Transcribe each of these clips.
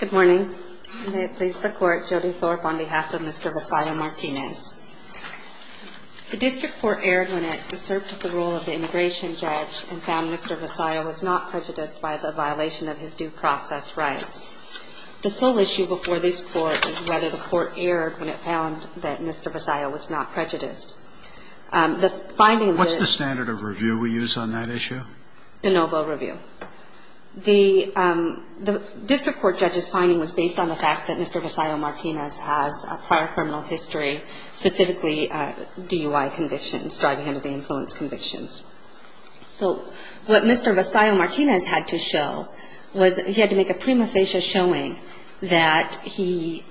Good morning. May it please the Court, Jody Thorpe on behalf of Mr. Vasallo-Martinez. The District Court erred when it asserted the role of the immigration judge and found Mr. Vasallo was not prejudiced by the violation of his due process rights. The sole issue before this Court is whether the Court erred when it found that Mr. Vasallo was not prejudiced. What's the standard of review we use on that issue? De novo review. The District Court judge's finding was based on the fact that Mr. Vasallo-Martinez has a prior criminal history, specifically DUI convictions, driving under the influence convictions. So what Mr. Vasallo-Martinez had to show was he had to make a prima facie showing that he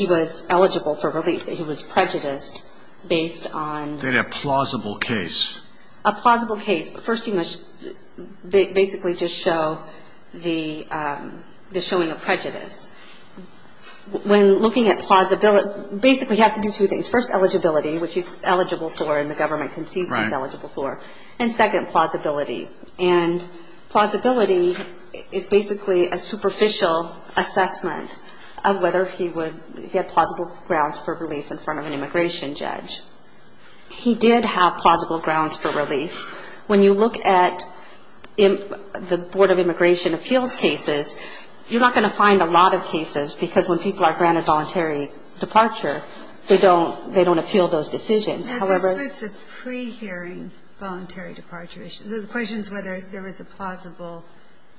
was eligible for relief, that he was prejudiced based on a plausible case. A plausible case. First he must basically just show the showing of prejudice. When looking at plausibility, basically he has to do two things. First, eligibility, which he's eligible for and the government concedes he's eligible for. And second, plausibility. And plausibility is basically a superficial assessment of whether he had plausible grounds for relief in front of an immigration judge. He did have plausible grounds for relief. When you look at the Board of Immigration Appeals cases, you're not going to find a lot of cases because when people are granted voluntary departure, they don't appeal those decisions. However — But this was a pre-hearing voluntary departure issue. The question is whether there was a plausible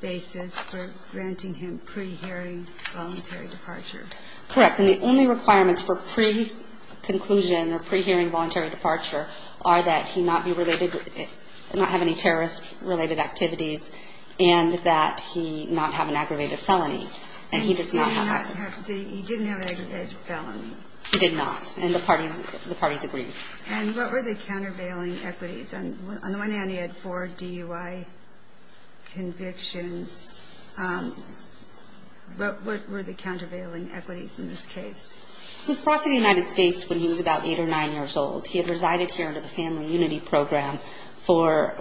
basis for granting him pre-hearing voluntary departure. Correct. And the only requirements for pre-conclusion or pre-hearing voluntary departure are that he not have any terrorist-related activities and that he not have an aggravated felony. And he did not have an aggravated felony. He did not. And the parties agreed. And what were the countervailing equities? On the one hand, he had four DUI convictions. What were the countervailing equities in this case? He was brought to the United States when he was about eight or nine years old. He had resided here under the Family Unity Program for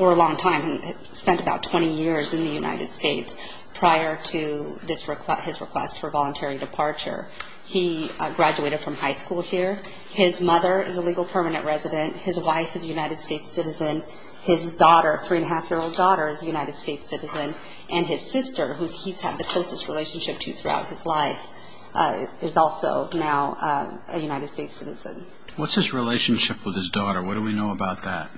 a long time. He spent about 20 years in the United States prior to his request for voluntary departure. He graduated from high school here. His mother is a legal permanent resident. His wife is a United States citizen. His daughter, three-and-a-half-year-old daughter, is a United States citizen. And his sister, who he's had the closest relationship to throughout his life, is also now a United States citizen. What's his relationship with his daughter? What do we know about that?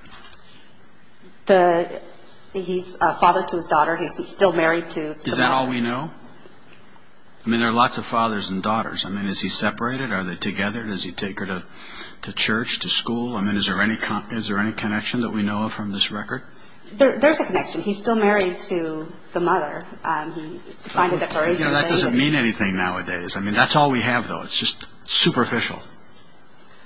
He's a father to his daughter. He's still married to the mother. What do we know? I mean, there are lots of fathers and daughters. I mean, is he separated? Are they together? Does he take her to church, to school? I mean, is there any connection that we know of from this record? There's a connection. He's still married to the mother. That doesn't mean anything nowadays. I mean, that's all we have, though. It's just superficial.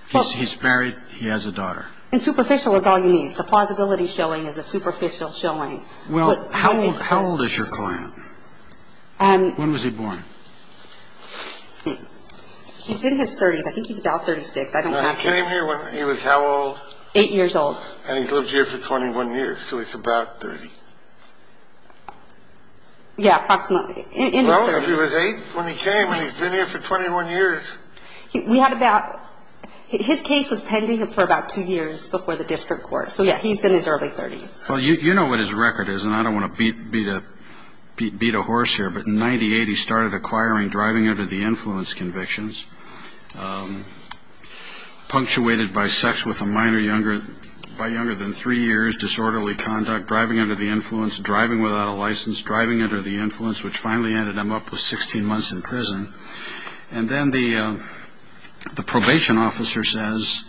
He's married. He has a daughter. And superficial is all you need. The plausibility showing is a superficial showing. Well, how old is your client? When was he born? He's in his 30s. I think he's about 36. I don't know. He came here when he was how old? Eight years old. And he's lived here for 21 years, so he's about 30. Yeah, approximately. In his 30s. Well, he was eight when he came, and he's been here for 21 years. His case was pending for about two years before the district court. So, yeah, he's in his early 30s. Well, you know what his record is, and I don't want to beat a horse here, but in 1998 he started acquiring driving under the influence convictions, punctuated by sex with a minor by younger than three years, disorderly conduct, driving under the influence, driving without a license, driving under the influence, which finally ended him up with 16 months in prison. And then the probation officer says,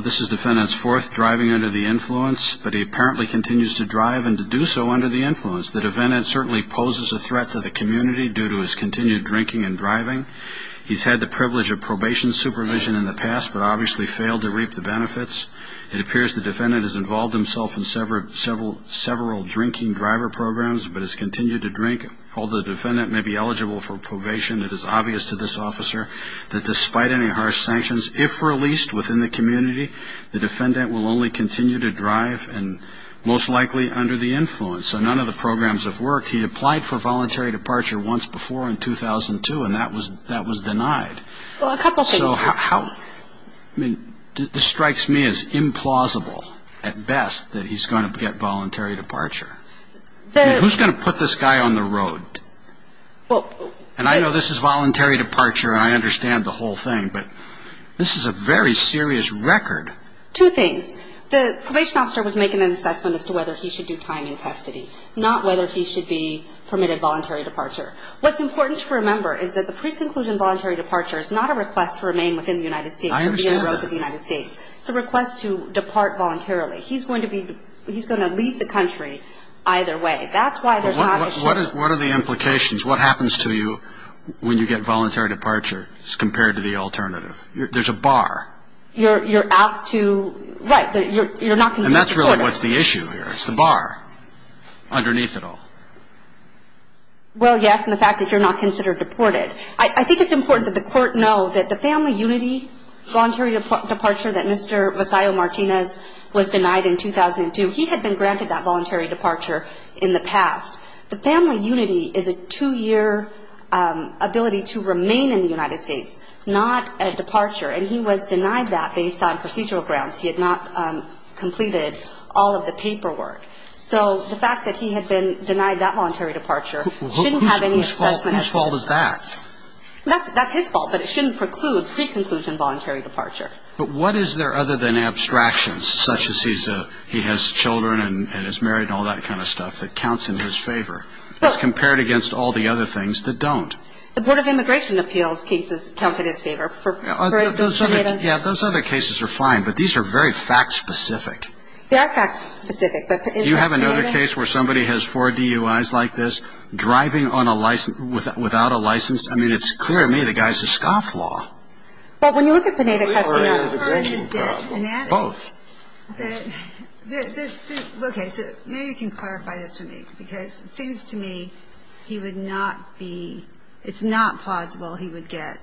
this is defendant's fourth driving under the influence, but he apparently continues to drive and to do so under the influence. The defendant certainly poses a threat to the community due to his continued drinking and driving. He's had the privilege of probation supervision in the past, but obviously failed to reap the benefits. It appears the defendant has involved himself in several drinking driver programs, but has continued to drink. Although the defendant may be eligible for probation, it is obvious to this officer that despite any harsh sanctions, if released within the community, the defendant will only continue to drive and most likely under the influence. So none of the programs have worked. He applied for voluntary departure once before in 2002, and that was denied. Well, a couple things. So how, I mean, this strikes me as implausible at best that he's going to get voluntary departure. Who's going to put this guy on the road? And I know this is voluntary departure, and I understand the whole thing, but this is a very serious record. Two things. The probation officer was making an assessment as to whether he should do time in custody, not whether he should be permitted voluntary departure. What's important to remember is that the pre-conclusion voluntary departure is not a request to remain within the United States. I understand that. It's a request to depart voluntarily. He's going to leave the country either way. That's why there's not a chance. What are the implications? What happens to you when you get voluntary departure compared to the alternative? There's a bar. You're asked to, right, you're not considered deported. And that's really what's the issue here. It's the bar underneath it all. Well, yes, and the fact that you're not considered deported. I think it's important that the court know that the family unity voluntary departure that Mr. Masayo-Martinez was denied in 2002, he had been granted that voluntary departure in the past. The family unity is a two-year ability to remain in the United States, not a departure. And he was denied that based on procedural grounds. He had not completed all of the paperwork. So the fact that he had been denied that voluntary departure shouldn't have any assessment. Whose fault is that? That's his fault, but it shouldn't preclude pre-conclusion voluntary departure. But what is there other than abstractions, such as he has children and is married and all that kind of stuff, that counts in his favor as compared against all the other things that don't? The Board of Immigration Appeals cases count in his favor. Yeah, those other cases are fine, but these are very fact-specific. They are fact-specific. Do you have another case where somebody has four DUIs like this, driving without a license? I mean, it's clear to me the guy's a scofflaw. But when you look at Pineda-Castillo. Both. Okay. So maybe you can clarify this for me, because it seems to me he would not be – it's not plausible he would get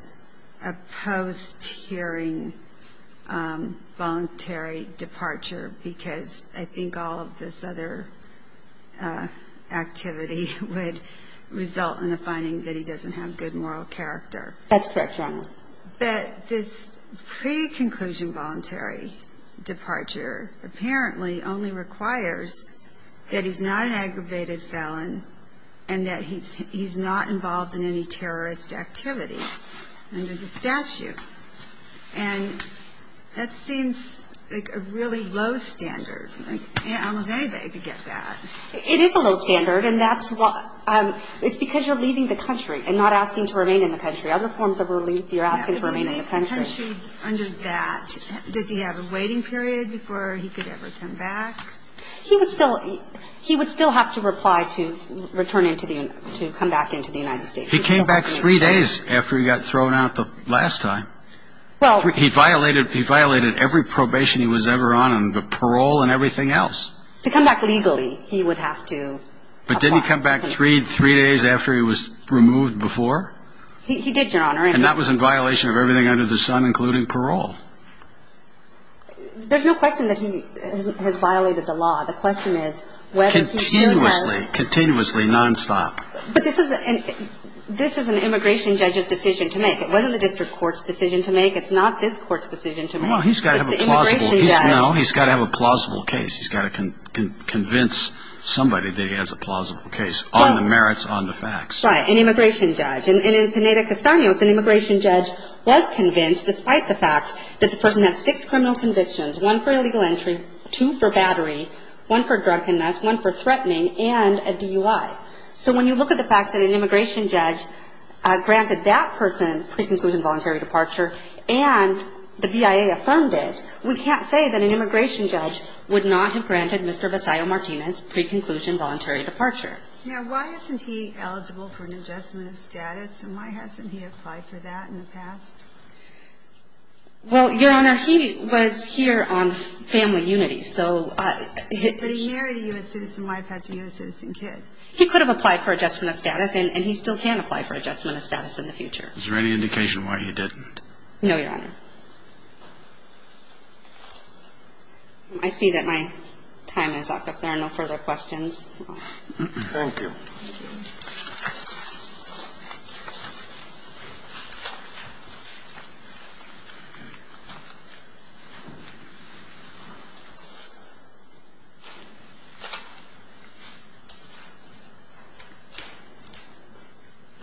a post-hearing voluntary departure, because I think all of this other activity would result in the finding that he doesn't have good moral character. That's correct, Your Honor. But this pre-conclusion voluntary departure apparently only requires that he's not an aggravated felon and that he's not involved in any terrorist activity under the statute. And that seems like a really low standard. Almost anybody could get that. It is a low standard, and that's why – it's because you're leaving the country and not asking to remain in the country. Other forms of relief, you're asking to remain in the country. Under that, does he have a waiting period before he could ever come back? He would still – he would still have to reply to return into the – to come back into the United States. He came back three days after he got thrown out the last time. Well – He violated – he violated every probation he was ever on and the parole and everything else. To come back legally, he would have to apply. But didn't he come back three days after he was removed before? He did, Your Honor. And that was in violation of everything under the sun, including parole. There's no question that he has violated the law. The question is whether he's doing that – Continuously. Continuously. Nonstop. But this is – this is an immigration judge's decision to make. It wasn't the district court's decision to make. It's not this court's decision to make. Well, he's got to have a plausible – It's the immigration judge. No, he's got to have a plausible case. He's got to convince somebody that he has a plausible case on the merits, on the facts. Right. An immigration judge. And in Pineda-Castano's, an immigration judge was convinced, despite the fact that the person had six criminal convictions – one for illegal entry, two for battery, one for drunkenness, one for threatening, and a DUI. So when you look at the fact that an immigration judge granted that person pre-conclusion voluntary departure and the BIA affirmed it, we can't say that an immigration judge would not have granted Mr. Basayo-Martinez pre-conclusion voluntary departure. Now, why isn't he eligible for an adjustment of status, and why hasn't he applied for that in the past? Well, Your Honor, he was here on family unity, so he – But he married a U.S. citizen wife as a U.S. citizen kid. He could have applied for adjustment of status, and he still can apply for adjustment of status in the future. Is there any indication why he didn't? No, Your Honor. I see that my time is up. If there are no further questions – Thank you.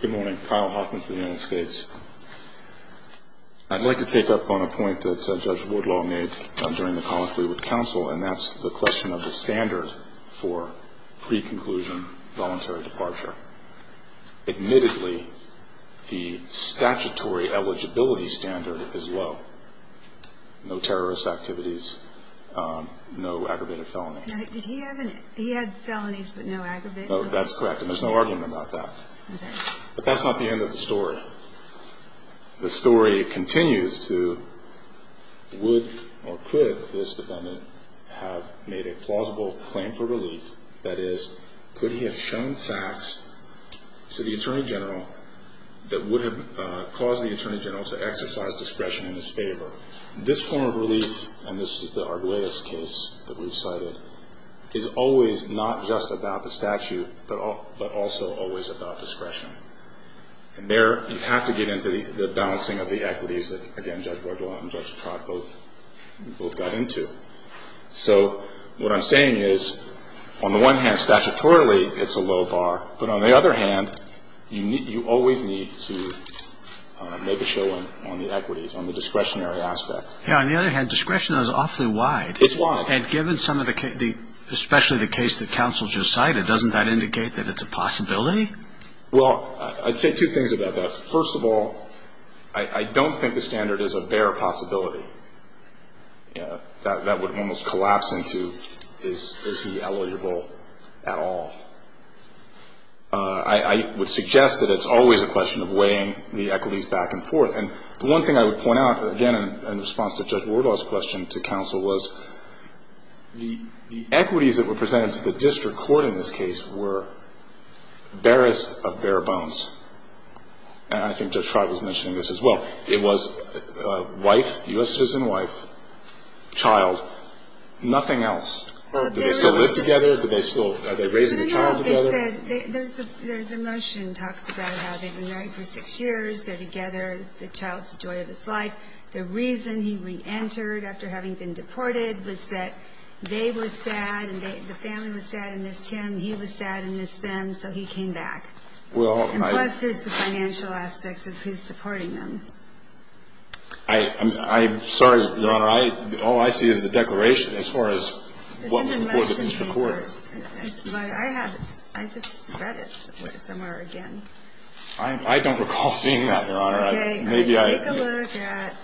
Good morning. Kyle Hoffman for the United States. I'd like to take up on a point that Judge Woodlaw made during the commentary with counsel, and that's the question of the standard for pre-conclusion voluntary departure. Admittedly, the statutory eligibility standard is low. No terrorist activities, no aggravated felonies. Now, did he have any – he had felonies, but no aggravated felonies? No, that's correct, and there's no argument about that. Okay. But that's not the end of the story. The story continues to would or could this defendant have made a plausible claim for relief? That is, could he have shown facts to the Attorney General that would have caused the Attorney General to exercise discretion in his favor? This form of relief, and this is the Arguellas case that we've cited, is always not just about the statute, but also always about discretion. And there you have to get into the balancing of the equities that, again, Judge Woodlaw and Judge Trott both got into. So what I'm saying is, on the one hand, statutorily, it's a low bar. But on the other hand, you always need to make a show on the equities, on the discretionary aspect. Yeah, on the other hand, discretion is awfully wide. It's wide. And given some of the – especially the case that counsel just cited, doesn't that indicate that it's a possibility? Well, I'd say two things about that. First of all, I don't think the standard is a bare possibility. That would almost collapse into, is he eligible at all? I would suggest that it's always a question of weighing the equities back and forth. And the one thing I would point out, again, in response to Judge Woodlaw's question to counsel, was the equities that were presented to the district court in this case were barest of bare bones. And I think Judge Trott was mentioning this as well. It was wife, U.S. citizen wife, child, nothing else. Do they still live together? Do they still – are they raising a child together? You know what they said? The motion talks about how they've been married for six years. They're together. The child's the joy of his life. The reason he reentered after having been deported was that they were sad, and the family was sad and missed him. He was sad and missed them, so he came back. Well, I – I don't recall seeing that, Your Honor. Maybe I – Okay. Take a look at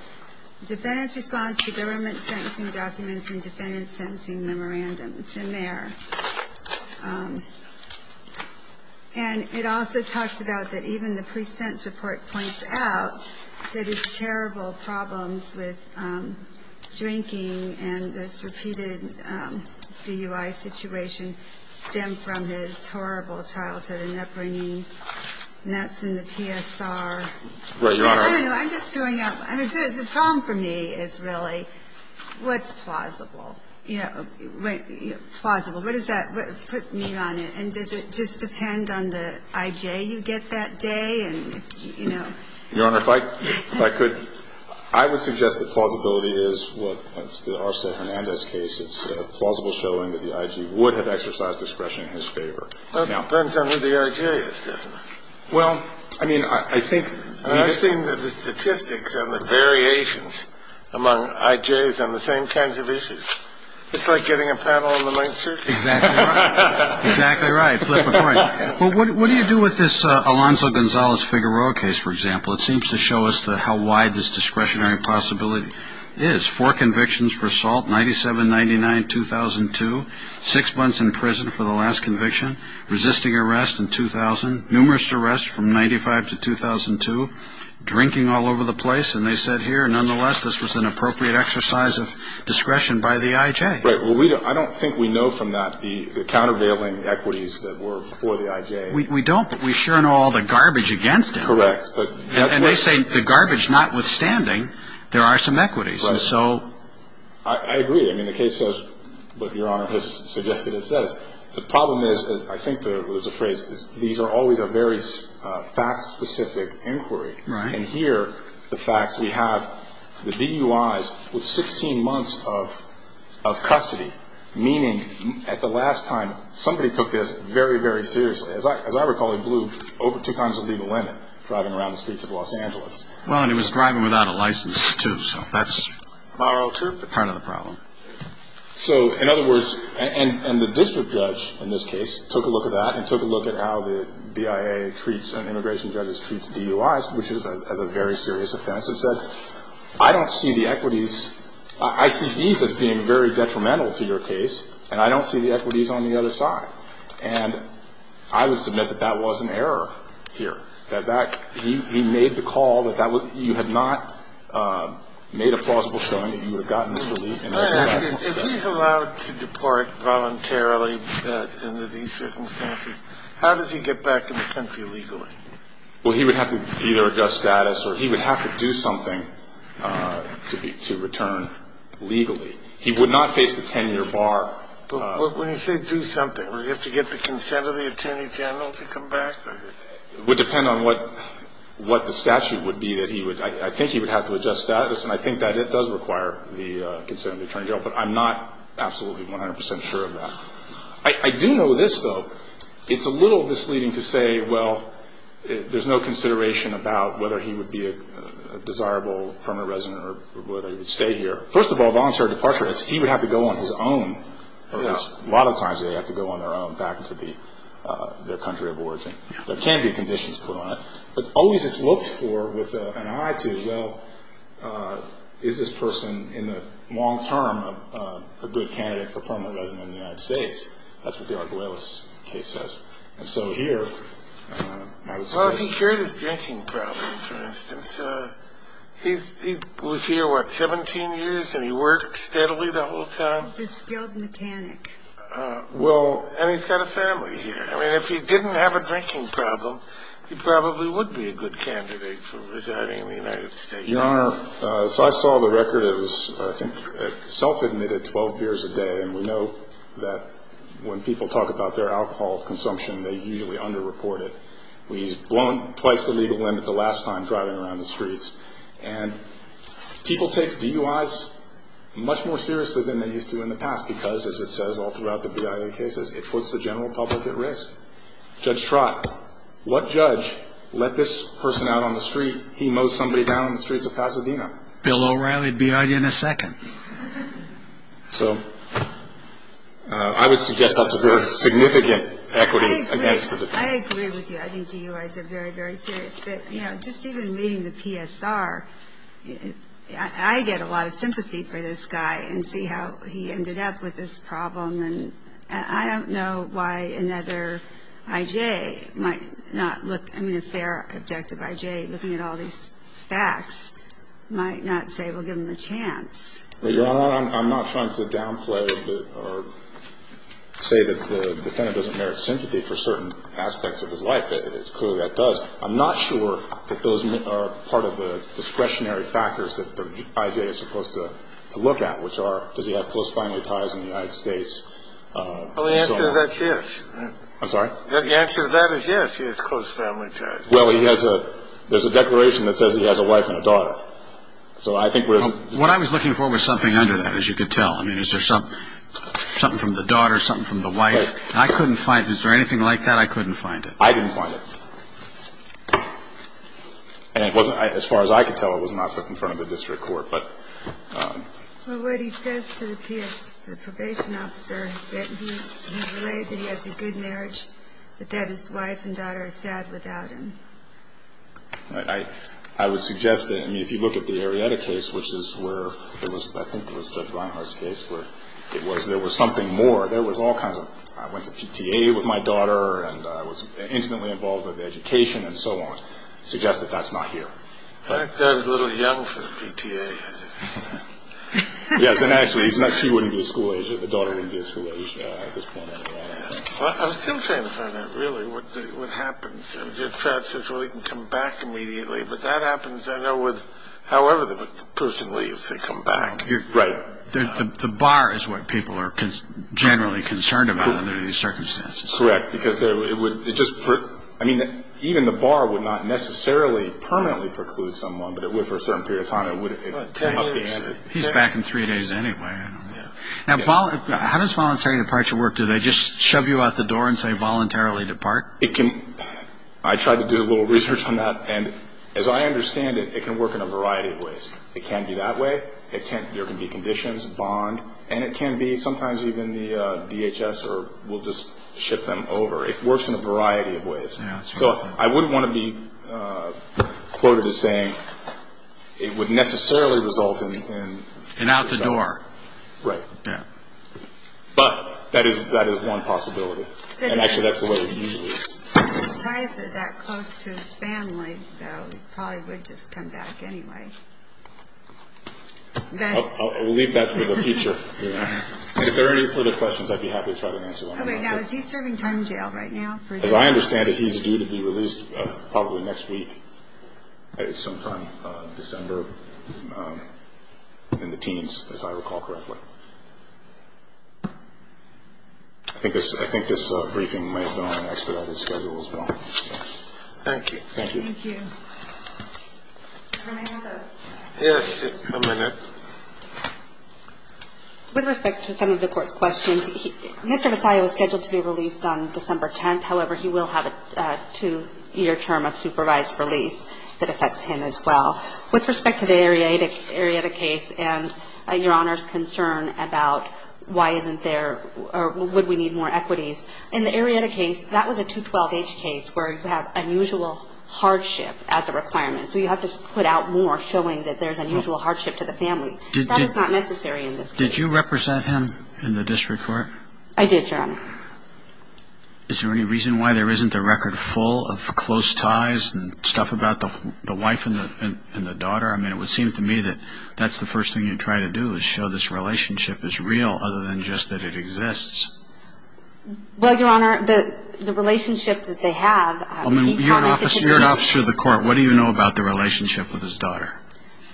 Defendant's Response to Government Sentencing Documents and Defendant's Sentencing Memorandum. It's in there. and weighing the equities back and forth, and weighing the equities back and forth. And even the pre-sense report points out that his terrible problems with drinking and this repeated DUI situation stem from his horrible childhood and upbringing. And that's in the PSR. Right, Your Honor. I don't know. I'm just throwing out – I mean, the problem for me is really what's plausible? You know, plausible. What does that – put me on it. And does it just depend on the I.J. you get that day? And, you know. Your Honor, if I could, I would suggest that plausibility is what – that's the Arcelor-Hernandez case. It's plausible showing that the I.J. would have exercised discretion in his favor. It depends on who the I.J. is, doesn't it? Well, I mean, I think – I've seen the statistics and the variations among I.J.s on the same kinds of issues. It's like getting a panel on the main circuit. Exactly right. Exactly right. Flip a coin. Well, what do you do with this Alonzo Gonzalez-Figueroa case, for example? It seems to show us how wide this discretionary possibility is. Four convictions for assault, 1997, 1999, 2002. Six months in prison for the last conviction. Resisting arrest in 2000. Numerous arrests from 1995 to 2002. Drinking all over the place. And they said here, nonetheless, this was an appropriate exercise of discretion by the I.J. Right. Well, I don't think we know from that the countervailing equities that were before the I.J. We don't. But we sure know all the garbage against it. Correct. And they say the garbage notwithstanding, there are some equities. Right. And so – I agree. I mean, the case says what Your Honor has suggested it says. The problem is, I think there was a phrase, these are always a very fact-specific inquiry. Right. And here, the facts, we have the DUIs with 16 months of custody. Meaning, at the last time, somebody took this very, very seriously. As I recall, it blew over two times the legal limit, driving around the streets of Los Angeles. Well, and he was driving without a license, too. So that's part of the problem. So, in other words, and the district judge, in this case, took a look at that which is a very serious offense and said, I don't see the equities. I see these as being very detrimental to your case, and I don't see the equities on the other side. And I would submit that that was an error here. That he made the call that you had not made a plausible showing that you would have gotten this relief. If he's allowed to deport voluntarily under these circumstances, how does he get back in the country legally? Well, he would have to either adjust status or he would have to do something to return legally. He would not face the 10-year bar. But when you say do something, would he have to get the consent of the attorney general to come back? It would depend on what the statute would be that he would. I think he would have to adjust status, and I think that it does require the consent of the attorney general. But I'm not absolutely 100 percent sure of that. I do know this, though. It's a little misleading to say, well, there's no consideration about whether he would be a desirable permanent resident or whether he would stay here. First of all, voluntary departure, he would have to go on his own. A lot of times they have to go on their own back into their country of origin. There can be conditions put on it. But always it's looked for with an eye to, well, is this person in the long term a good candidate for permanent resident in the United States? That's what the Arguelles case says. And so here, I would suggest... Well, if he cured his drinking problem, for instance. He was here, what, 17 years, and he worked steadily that whole time? He's still in the panic. Well, and he's got a family here. I mean, if he didn't have a drinking problem, he probably would be a good candidate for residing in the United States. Your Honor, so I saw the record. It was, I think, self-admitted 12 beers a day. And we know that when people talk about their alcohol consumption, they usually under-report it. He's blown twice the legal limit the last time driving around the streets. And people take DUIs much more seriously than they used to in the past because, as it says all throughout the BIA cases, it puts the general public at risk. Judge Trott, what judge let this person out on the street? He mowed somebody down in the streets of Pasadena. Bill O'Reilly would be on you in a second. So I would suggest that's a very significant equity against the defense. I agree with you. I think DUIs are very, very serious. But, you know, just even meeting the PSR, I get a lot of sympathy for this guy and see how he ended up with this problem. And I don't know why another I.J. might not look, I mean, a fair, objective I.J. looking at all these facts might not say, well, give him a chance. Your Honor, I'm not trying to downplay or say that the defendant doesn't merit sympathy for certain aspects of his life. It's clear that does. I'm not sure that those are part of the discretionary factors that the I.J. is supposed to look at, which are, does he have close family ties in the United States? Well, the answer to that is yes. I'm sorry? The answer to that is yes, he has close family ties. Well, he has a – there's a declaration that says he has a wife and a daughter. So I think we're – What I was looking for was something under that, as you could tell. I mean, is there something from the daughter, something from the wife? I couldn't find – is there anything like that? I couldn't find it. I didn't find it. And it wasn't – as far as I could tell, it was not put in front of the district court. But – Well, what he says to the PS – the probation officer, he relayed that he has a good marriage, but that his wife and daughter are sad without him. I would suggest that – I mean, if you look at the Arrieta case, which is where there was – I think it was Judge Reinhardt's case where it was because there was something more. There was all kinds of – I went to PTA with my daughter, and I was intimately involved with education and so on. I suggest that that's not here. That guy's a little young for the PTA, isn't he? Yes, and actually, he's not – she wouldn't be his school age. The daughter wouldn't be his school age at this point. Well, I was still trying to find out, really, what happens. Judge Pratt says, well, he can come back immediately. But that happens, I know, with however the person leaves. They come back. Right. The bar is what people are generally concerned about under these circumstances. Correct, because it would – it just – I mean, even the bar would not necessarily permanently preclude someone, but it would for a certain period of time. He's back in three days anyway. Now, how does voluntary departure work? Do they just shove you out the door and say, voluntarily depart? It can – I tried to do a little research on that, and as I understand it, it can work in a variety of ways. It can be that way. It can – there can be conditions, bond, and it can be sometimes even the DHS will just ship them over. It works in a variety of ways. So I wouldn't want to be quoted as saying it would necessarily result in – In out the door. Right. Yeah. But that is one possibility, and actually, that's the way it usually is. If his ties are that close to his family, though, he probably would just come back anyway. We'll leave that for the future. If there are any further questions, I'd be happy to try to answer them. Now, is he serving time in jail right now? As I understand it, he's due to be released probably next week sometime in December in the teens, as I recall correctly. I think this briefing might have been on an expedited schedule as well. Thank you. Thank you. Thank you. Yes, a minute. With respect to some of the court's questions, Mr. Vassallo is scheduled to be released on December 10th. However, he will have a two-year term of supervised release that affects him as well. With respect to the Arietta case and Your Honor's concern about why isn't there or would we need more equities, in the Arietta case, that was a 212H case where you have unusual hardship as a requirement. So you have to put out more showing that there's unusual hardship to the family. That is not necessary in this case. Did you represent him in the district court? I did, Your Honor. Is there any reason why there isn't a record full of close ties and stuff about the wife and the daughter? I mean, it would seem to me that that's the first thing you'd try to do is show this relationship is real other than just that it exists. Well, Your Honor, the relationship that they have, he commented that he's close. You're an officer of the court. What do you know about the relationship with his daughter?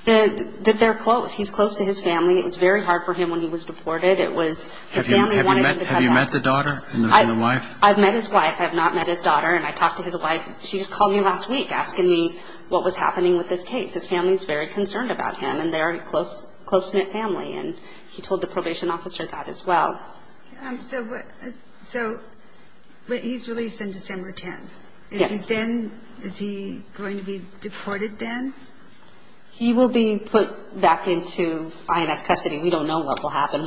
That they're close. He's close to his family. It was very hard for him when he was deported. Have you met the daughter and the wife? I've met his wife. I have not met his daughter. And I talked to his wife. She just called me last week asking me what was happening with this case. His family is very concerned about him, and they are a close-knit family. And he told the probation officer that as well. So he's released on December 10th. Yes. Is he going to be deported then? He will be put back into INS custody. We don't know what will happen.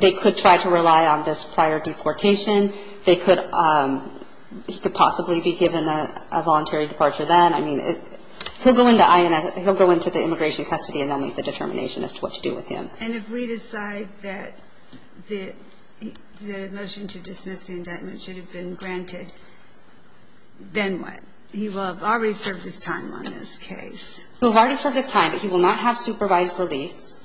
They could try to rely on this prior deportation. He could possibly be given a voluntary departure then. I mean, he'll go into the immigration custody and then make the determination as to what to do with him. And if we decide that the motion to dismiss the indictment should have been granted, then what? He will have already served his time on this case. He will have already served his time, but he will not have supervised release.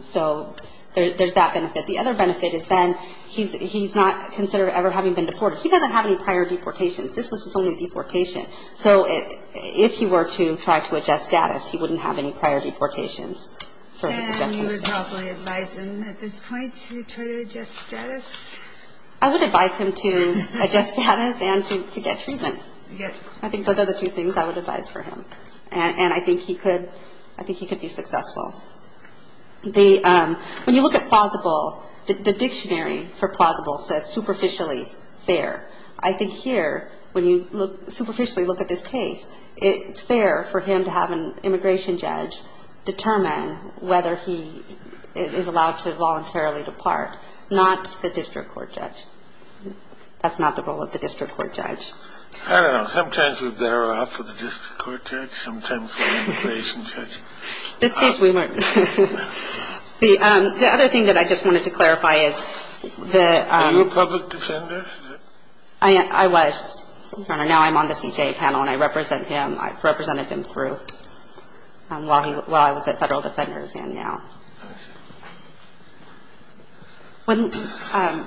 So there's that benefit. The other benefit is then he's not considered ever having been deported. He doesn't have any prior deportations. This was his only deportation. So if he were to try to adjust status, he wouldn't have any prior deportations. And you would probably advise him at this point to try to adjust status? I would advise him to adjust status and to get treatment. I think those are the two things I would advise for him. And I think he could be successful. When you look at plausible, the dictionary for plausible says superficially fair. I think here, when you superficially look at this case, it's fair for him to have an immigration judge determine whether he is allowed to voluntarily depart, not the district court judge. That's not the role of the district court judge. I don't know. Sometimes we bear off with the district court judge. Sometimes with the immigration judge. This case, we weren't. The other thing that I just wanted to clarify is the — Were you a public defender? I was, Your Honor. Now I'm on the CJA panel, and I represent him. I've represented him through while I was at Federal Defenders and now. I see. When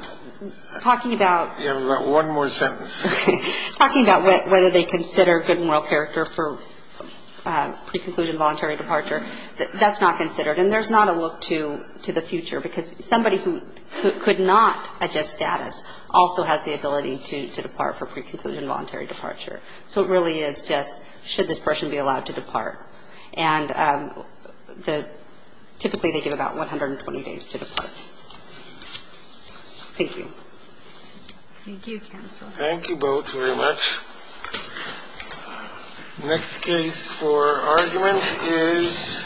talking about — You have one more sentence. Okay. Talking about whether they consider good moral character for pre-conclusion voluntary departure, that's not considered. And there's not a look to the future, because somebody who could not adjust status also has the ability to depart for pre-conclusion voluntary departure. So it really is just should this person be allowed to depart. And typically they give about 120 days to depart. Thank you. Thank you, counsel. Thank you both very much. Next case for argument is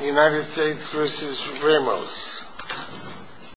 United States v. Ramos.